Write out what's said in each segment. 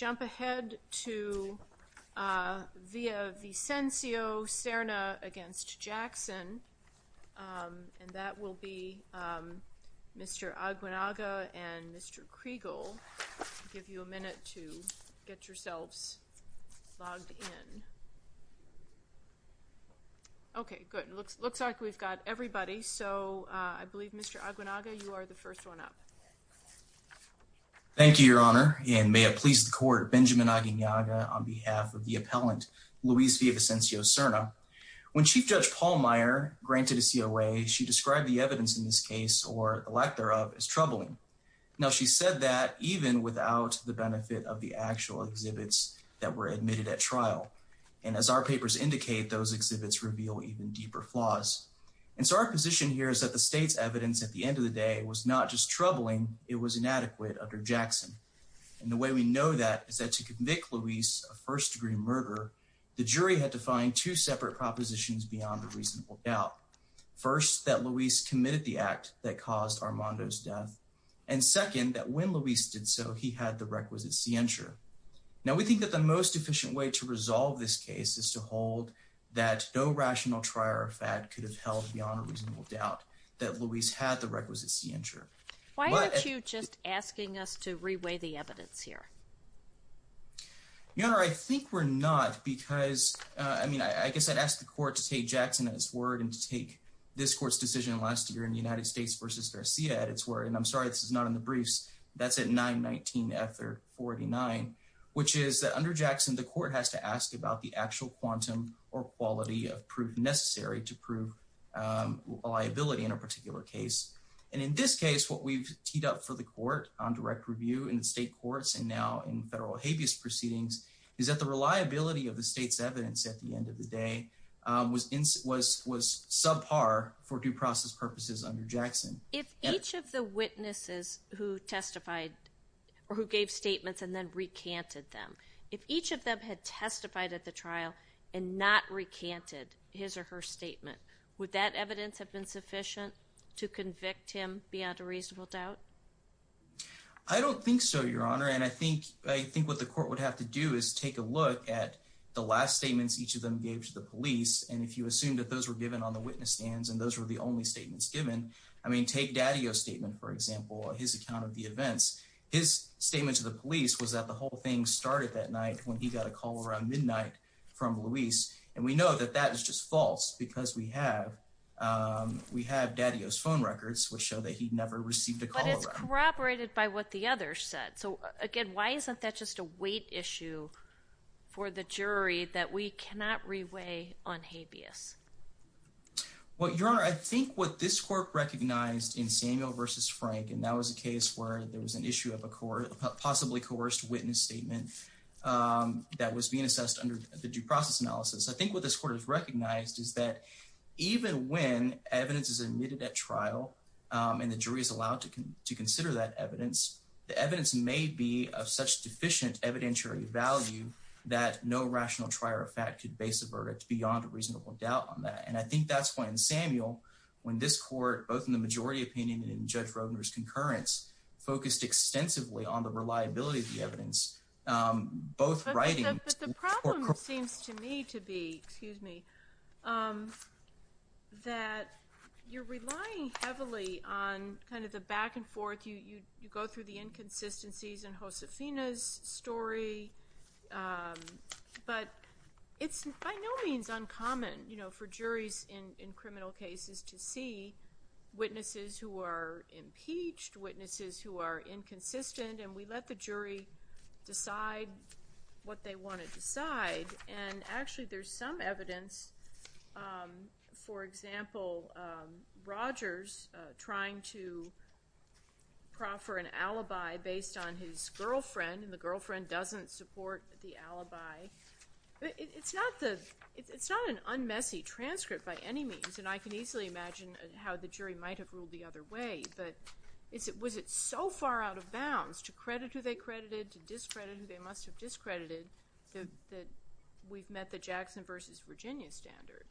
and that will be Mr. Aguinaldo and Mr. Kregel. I'll give you a minute to get yourselves logged in. Okay, good. It looks like we've got everybody, so I believe Mr. Aguinaldo, you are the first one up. Thank you, Your Honor, and may it please the court, Benjamin Aguinaldo on behalf of the appellant, Luis Villavicencio-Serna. When Chief Judge Paul Meyer granted a COA, she described the evidence in this case, or the lack thereof, as troubling. Now, she said that even without the benefit of the actual exhibits that were admitted at trial. And as our papers indicate, those exhibits reveal even deeper flaws. And so our position here is that the state's evidence at the end of the day was not just troubling, it was inadequate under Jackson. And the way we know that is that to convict Luis of first-degree murder, the jury had to find two separate propositions beyond a reasonable doubt. First, that Luis committed the act that caused Armando's death. And second, that when Luis did so, he had the requisite scientia. Now, we think that the most efficient way to resolve this case is to hold that no rational trier or fad could have held beyond a reasonable doubt that Luis had the requisite scientia. Why aren't you just asking us to reweigh the evidence here? Your Honor, I think we're not, because, I mean, I guess I'd ask the court to take Jackson at his word and to take this court's decision last year in the United States v. Garcia at its word. And I'm sorry, this is not in the briefs. That's at 9-19-F-39, which is that under Jackson, the court has to ask about the actual quantum or quality of proof necessary to prove a liability in a particular case. And in this case, what we've teed up for the court on direct review in the state courts and now in federal habeas proceedings is that the reliability of the state's evidence at the end of the day was subpar for due process purposes under Jackson. If each of the witnesses who testified or who gave statements and then recanted them, if each of them had testified at the trial and not recanted his or her statement, would that evidence have been sufficient to convict him beyond a reasonable doubt? I don't think so, Your Honor, and I think what the court would have to do is take a look at the last statements each of them gave to the police. And if you assume that those were given on the witness stands and those were the only statements given, I mean, take Daddio's statement, for example, his account of the events. His statement to the police was that the whole thing started that night when he got a call around midnight from Luis. And we know that that is just false because we have Daddio's phone records which show that he never received a call. But it's corroborated by what the other said. So again, why isn't that just a weight issue for the jury that we cannot reweigh on habeas? Well, Your Honor, I think what this court recognized in Samuel versus Frank, and that was a case where there was an issue of a court possibly coerced witness statement that was being assessed under the due process analysis. I think what this court has recognized is that even when evidence is admitted at trial and the jury is allowed to consider that evidence, the evidence may be of such deficient evidentiary value that no rational trier of fact could base a verdict beyond a reasonable doubt on that. And I think that's when Samuel, when this court, both in the majority opinion and in Judge Roedner's concurrence, focused extensively on the reliability of the evidence, both writing- But the problem seems to me to be, excuse me, that you're relying heavily on kind of the back and forth. You go through the inconsistencies in Josefina's story, but it's by no means uncommon for juries in criminal cases to see witnesses who are impeached, witnesses who are inconsistent. And we let the jury decide what they want to decide. And actually, there's some evidence, for example, Rogers trying to proffer an alibi based on his girlfriend, and the girlfriend doesn't support the alibi. It's not an un-messy transcript by any means, and I can easily imagine how the jury might have ruled the other way, but was it so far out of bounds to credit who they credited, to discredit who they must have discredited, that we've met the Jackson versus Virginia standard?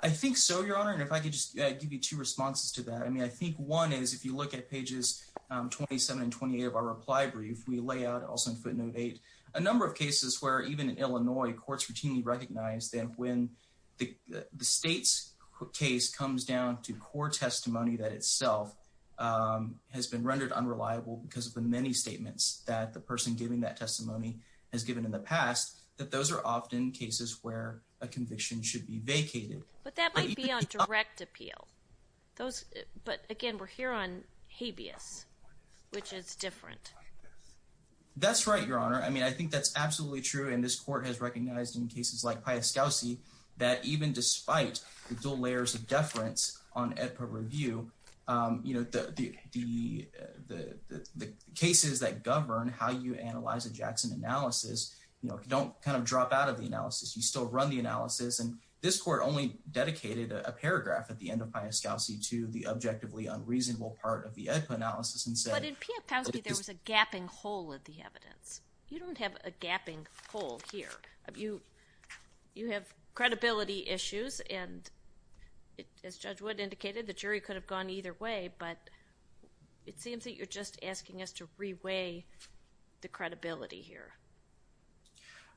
I think so, Your Honor, and if I could just give you two responses to that. I mean, I think one is, if you look at pages 27 and 28 of our reply brief, we lay out, also in footnote 8, a number of cases where even in Illinois, courts routinely recognize that when the state's case comes down to core testimony that itself has been rendered unreliable because of the many statements that the person giving that testimony has given in the past, that those are often cases where a conviction should be vacated. But that might be on direct appeal. But again, we're here on habeas, which is different. That's right, Your Honor. I mean, I think that's absolutely true, and this court has recognized in cases like Piaskowski that even despite the dual layers of deference on AEDPA review, the cases that govern how you analyze a Jackson analysis don't kind of drop out of the analysis. You still run the analysis, and this court only dedicated a paragraph at the end of Piaskowski to the objectively unreasonable part of the AEDPA analysis and said— You don't have a gapping hole here. You have credibility issues, and as Judge Wood indicated, the jury could have gone either way, but it seems that you're just asking us to reweigh the credibility here.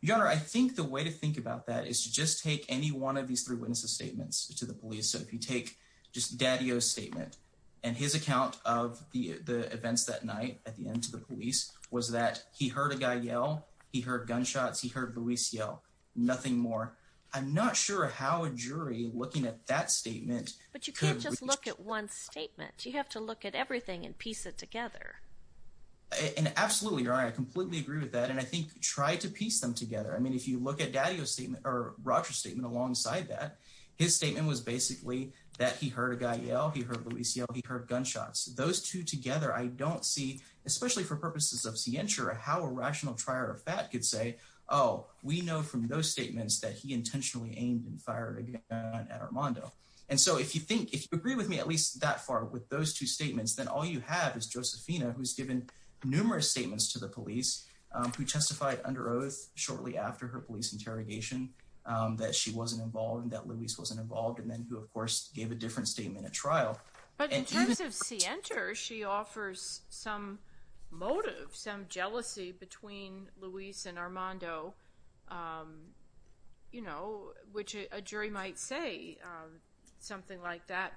Your Honor, I think the way to think about that is to just take any one of these three witnesses' statements to the police. So if you take just Daddio's statement and his account of the events that night at the end to the police was that he heard a guy yell, he heard gunshots, he heard Luis yell, nothing more. I'm not sure how a jury looking at that statement could— But you can't just look at one statement. You have to look at everything and piece it together. Absolutely, Your Honor. I completely agree with that, and I think try to piece them together. I mean, if you look at Daddio's statement or Roger's statement alongside that, his statement was basically that he heard a guy yell, he heard Luis yell, he heard gunshots. Those two together, I don't see, especially for purposes of scientia, how a rational trier of fact could say, oh, we know from those statements that he intentionally aimed and fired a gun at Armando. And so if you think—if you agree with me at least that far with those two statements, then all you have is Josefina, who's given numerous statements to the police, who testified under oath shortly after her police interrogation that she wasn't involved and that Luis wasn't involved, and then who, of course, gave a different statement at trial. But in terms of scientia, she offers some motive, some jealousy between Luis and Armando, which a jury might say something like that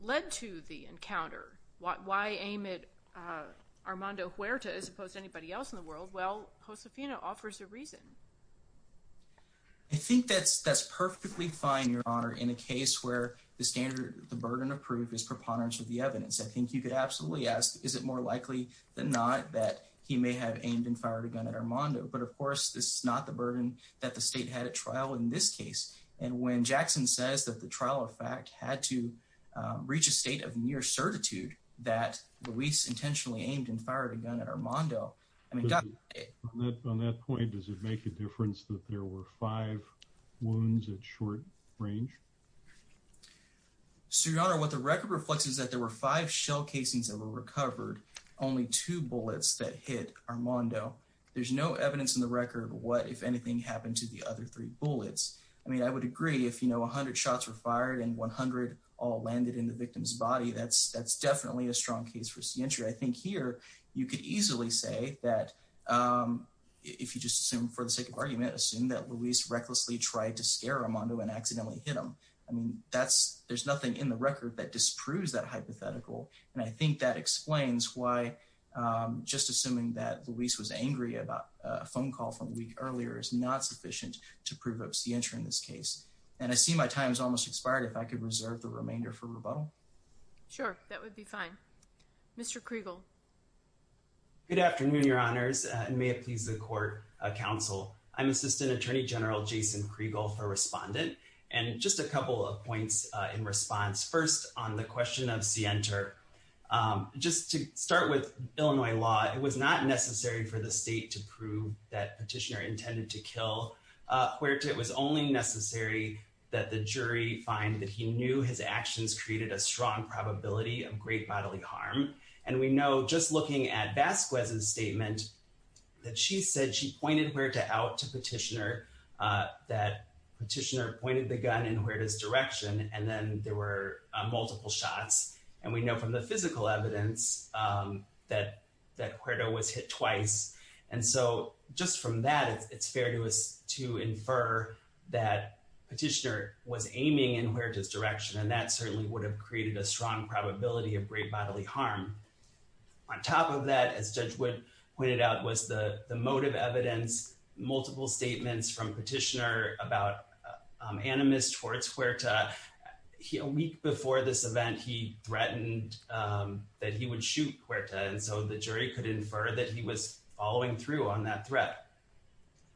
led to the encounter. Why aim at Armando Huerta as opposed to anybody else in the world? Well, Josefina offers a reason. I think that's perfectly fine, Your Honor, in a case where the standard—the burden of proof is preponderance of the evidence. I think you could absolutely ask, is it more likely than not that he may have aimed and fired a gun at Armando? But, of course, this is not the burden that the state had at trial in this case. And when Jackson says that the trial of fact had to reach a state of near certitude that Luis intentionally aimed and fired a gun at Armando— On that point, does it make a difference that there were five wounds at short range? So, Your Honor, what the record reflects is that there were five shell casings that were recovered, only two bullets that hit Armando. There's no evidence in the record what, if anything, happened to the other three bullets. I mean, I would agree if, you know, 100 shots were fired and 100 all landed in the victim's body, that's definitely a strong case for scientia. I think here you could easily say that, if you just assume for the sake of argument, assume that Luis recklessly tried to scare Armando and accidentally hit him. I mean, that's—there's nothing in the record that disproves that hypothetical. And I think that explains why just assuming that Luis was angry about a phone call from a week earlier is not sufficient to prove obscientia in this case. And I see my time has almost expired. If I could reserve the remainder for rebuttal. Sure, that would be fine. Mr. Kriegel. Good afternoon, Your Honors, and may it please the court, counsel. I'm Assistant Attorney General Jason Kriegel for Respondent, and just a couple of points in response. First, on the question of Sienta, just to start with Illinois law, it was not necessary for the state to prove that Petitioner intended to kill Puerta. It was only necessary that the jury find that he knew his actions created a strong probability of great bodily harm. And we know, just looking at Vasquez's statement, that she said she pointed Puerta out to Petitioner, that Petitioner pointed the gun in Puerta's direction, and then there were multiple shots. And we know from the physical evidence that Puerta was hit twice. And so just from that, it's fair to us to infer that Petitioner was aiming in Puerta's direction, and that certainly would have created a strong probability of great bodily harm. On top of that, as Judge Wood pointed out, was the motive evidence, multiple statements from Petitioner about animus towards Puerta. A week before this event, he threatened that he would shoot Puerta, and so the jury could infer that he was following through on that threat.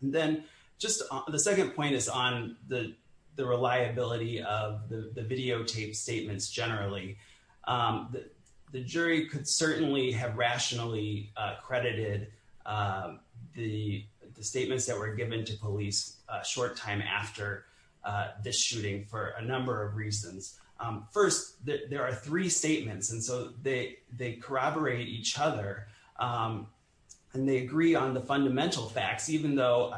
The second point is on the reliability of the videotaped statements generally. The jury could certainly have rationally credited the statements that were given to police a short time after this shooting for a number of reasons. First, there are three statements, and so they corroborate each other, and they agree on the fundamental facts, even though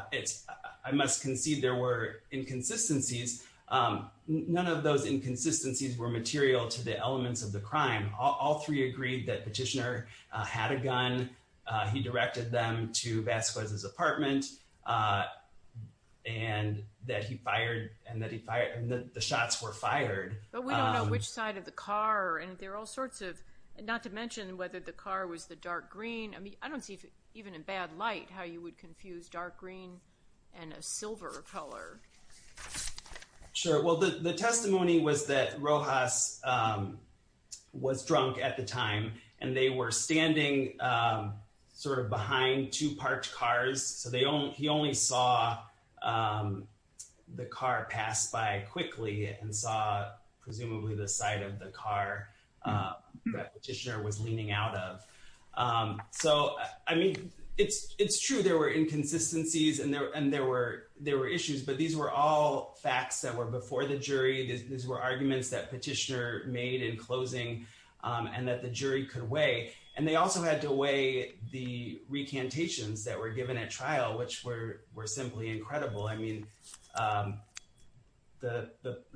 I must concede there were inconsistencies. None of those inconsistencies were material to the elements of the crime. All three agreed that Petitioner had a gun. He directed them to Vasquez's apartment, and that he fired, and that the shots were fired. But we don't know which side of the car, and there are all sorts of—not to mention whether the car was the dark green. I mean, I don't see, even in bad light, how you would confuse dark green and a silver color. Sure. Well, the testimony was that Rojas was drunk at the time, and they were standing sort of behind two parked cars, so he only saw the car pass by quickly and saw presumably the side of the car that Petitioner was leaning out of. So, I mean, it's true there were inconsistencies and there were issues, but these were all facts that were before the jury. These were arguments that Petitioner made in closing and that the jury could weigh, and they also had to weigh the recantations that were given at trial, which were simply incredible. I mean, there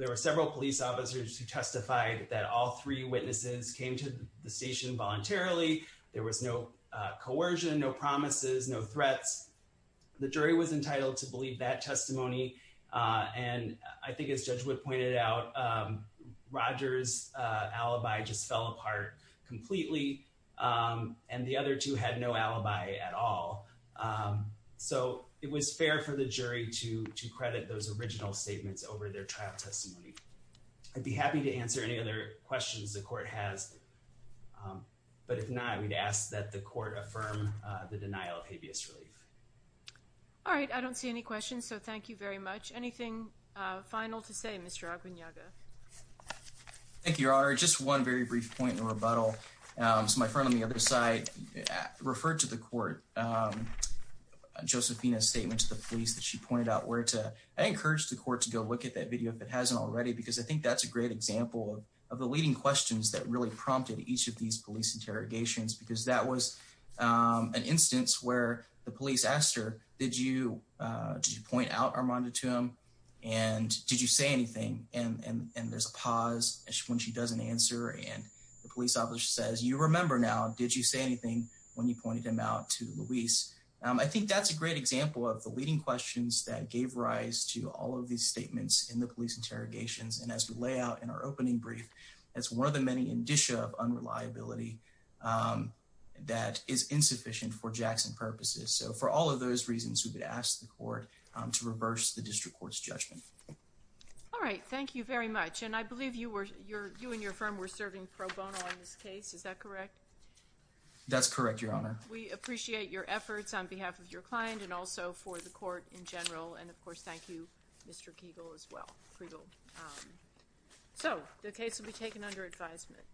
were several police officers who testified that all three witnesses came to the station voluntarily. There was no coercion, no promises, no threats. The jury was entitled to believe that testimony, and I think, as Judge Wood pointed out, Rojas' alibi just fell apart completely, and the other two had no alibi at all. So, it was fair for the jury to credit those original statements over their trial testimony. I'd be happy to answer any other questions the Court has, but if not, I would ask that the Court affirm the denial of habeas relief. All right. I don't see any questions, so thank you very much. Anything final to say, Mr. Aguinalda? Thank you, Your Honor. Your Honor, just one very brief point in the rebuttal. So, my friend on the other side referred to the Court, Josephina's statement to the police that she pointed out where to— I encourage the Court to go look at that video, if it hasn't already, because I think that's a great example of the leading questions that really prompted each of these police interrogations, because that was an instance where the police asked her, did you point out Armando to him, and did you say anything? And there's a pause when she doesn't answer, and the police officer says, you remember now, did you say anything when you pointed him out to Luis? I think that's a great example of the leading questions that gave rise to all of these statements in the police interrogations, and as we lay out in our opening brief, that's one of the many indicia of unreliability that is insufficient for Jackson purposes. So, for all of those reasons, we would ask the Court to reverse the District Court's judgment. All right. Thank you very much, and I believe you and your firm were serving pro bono on this case. Is that correct? That's correct, Your Honor. We appreciate your efforts on behalf of your client and also for the Court in general, and of course, thank you, Mr. Kegel, as well. So, the case will be taken under advisement.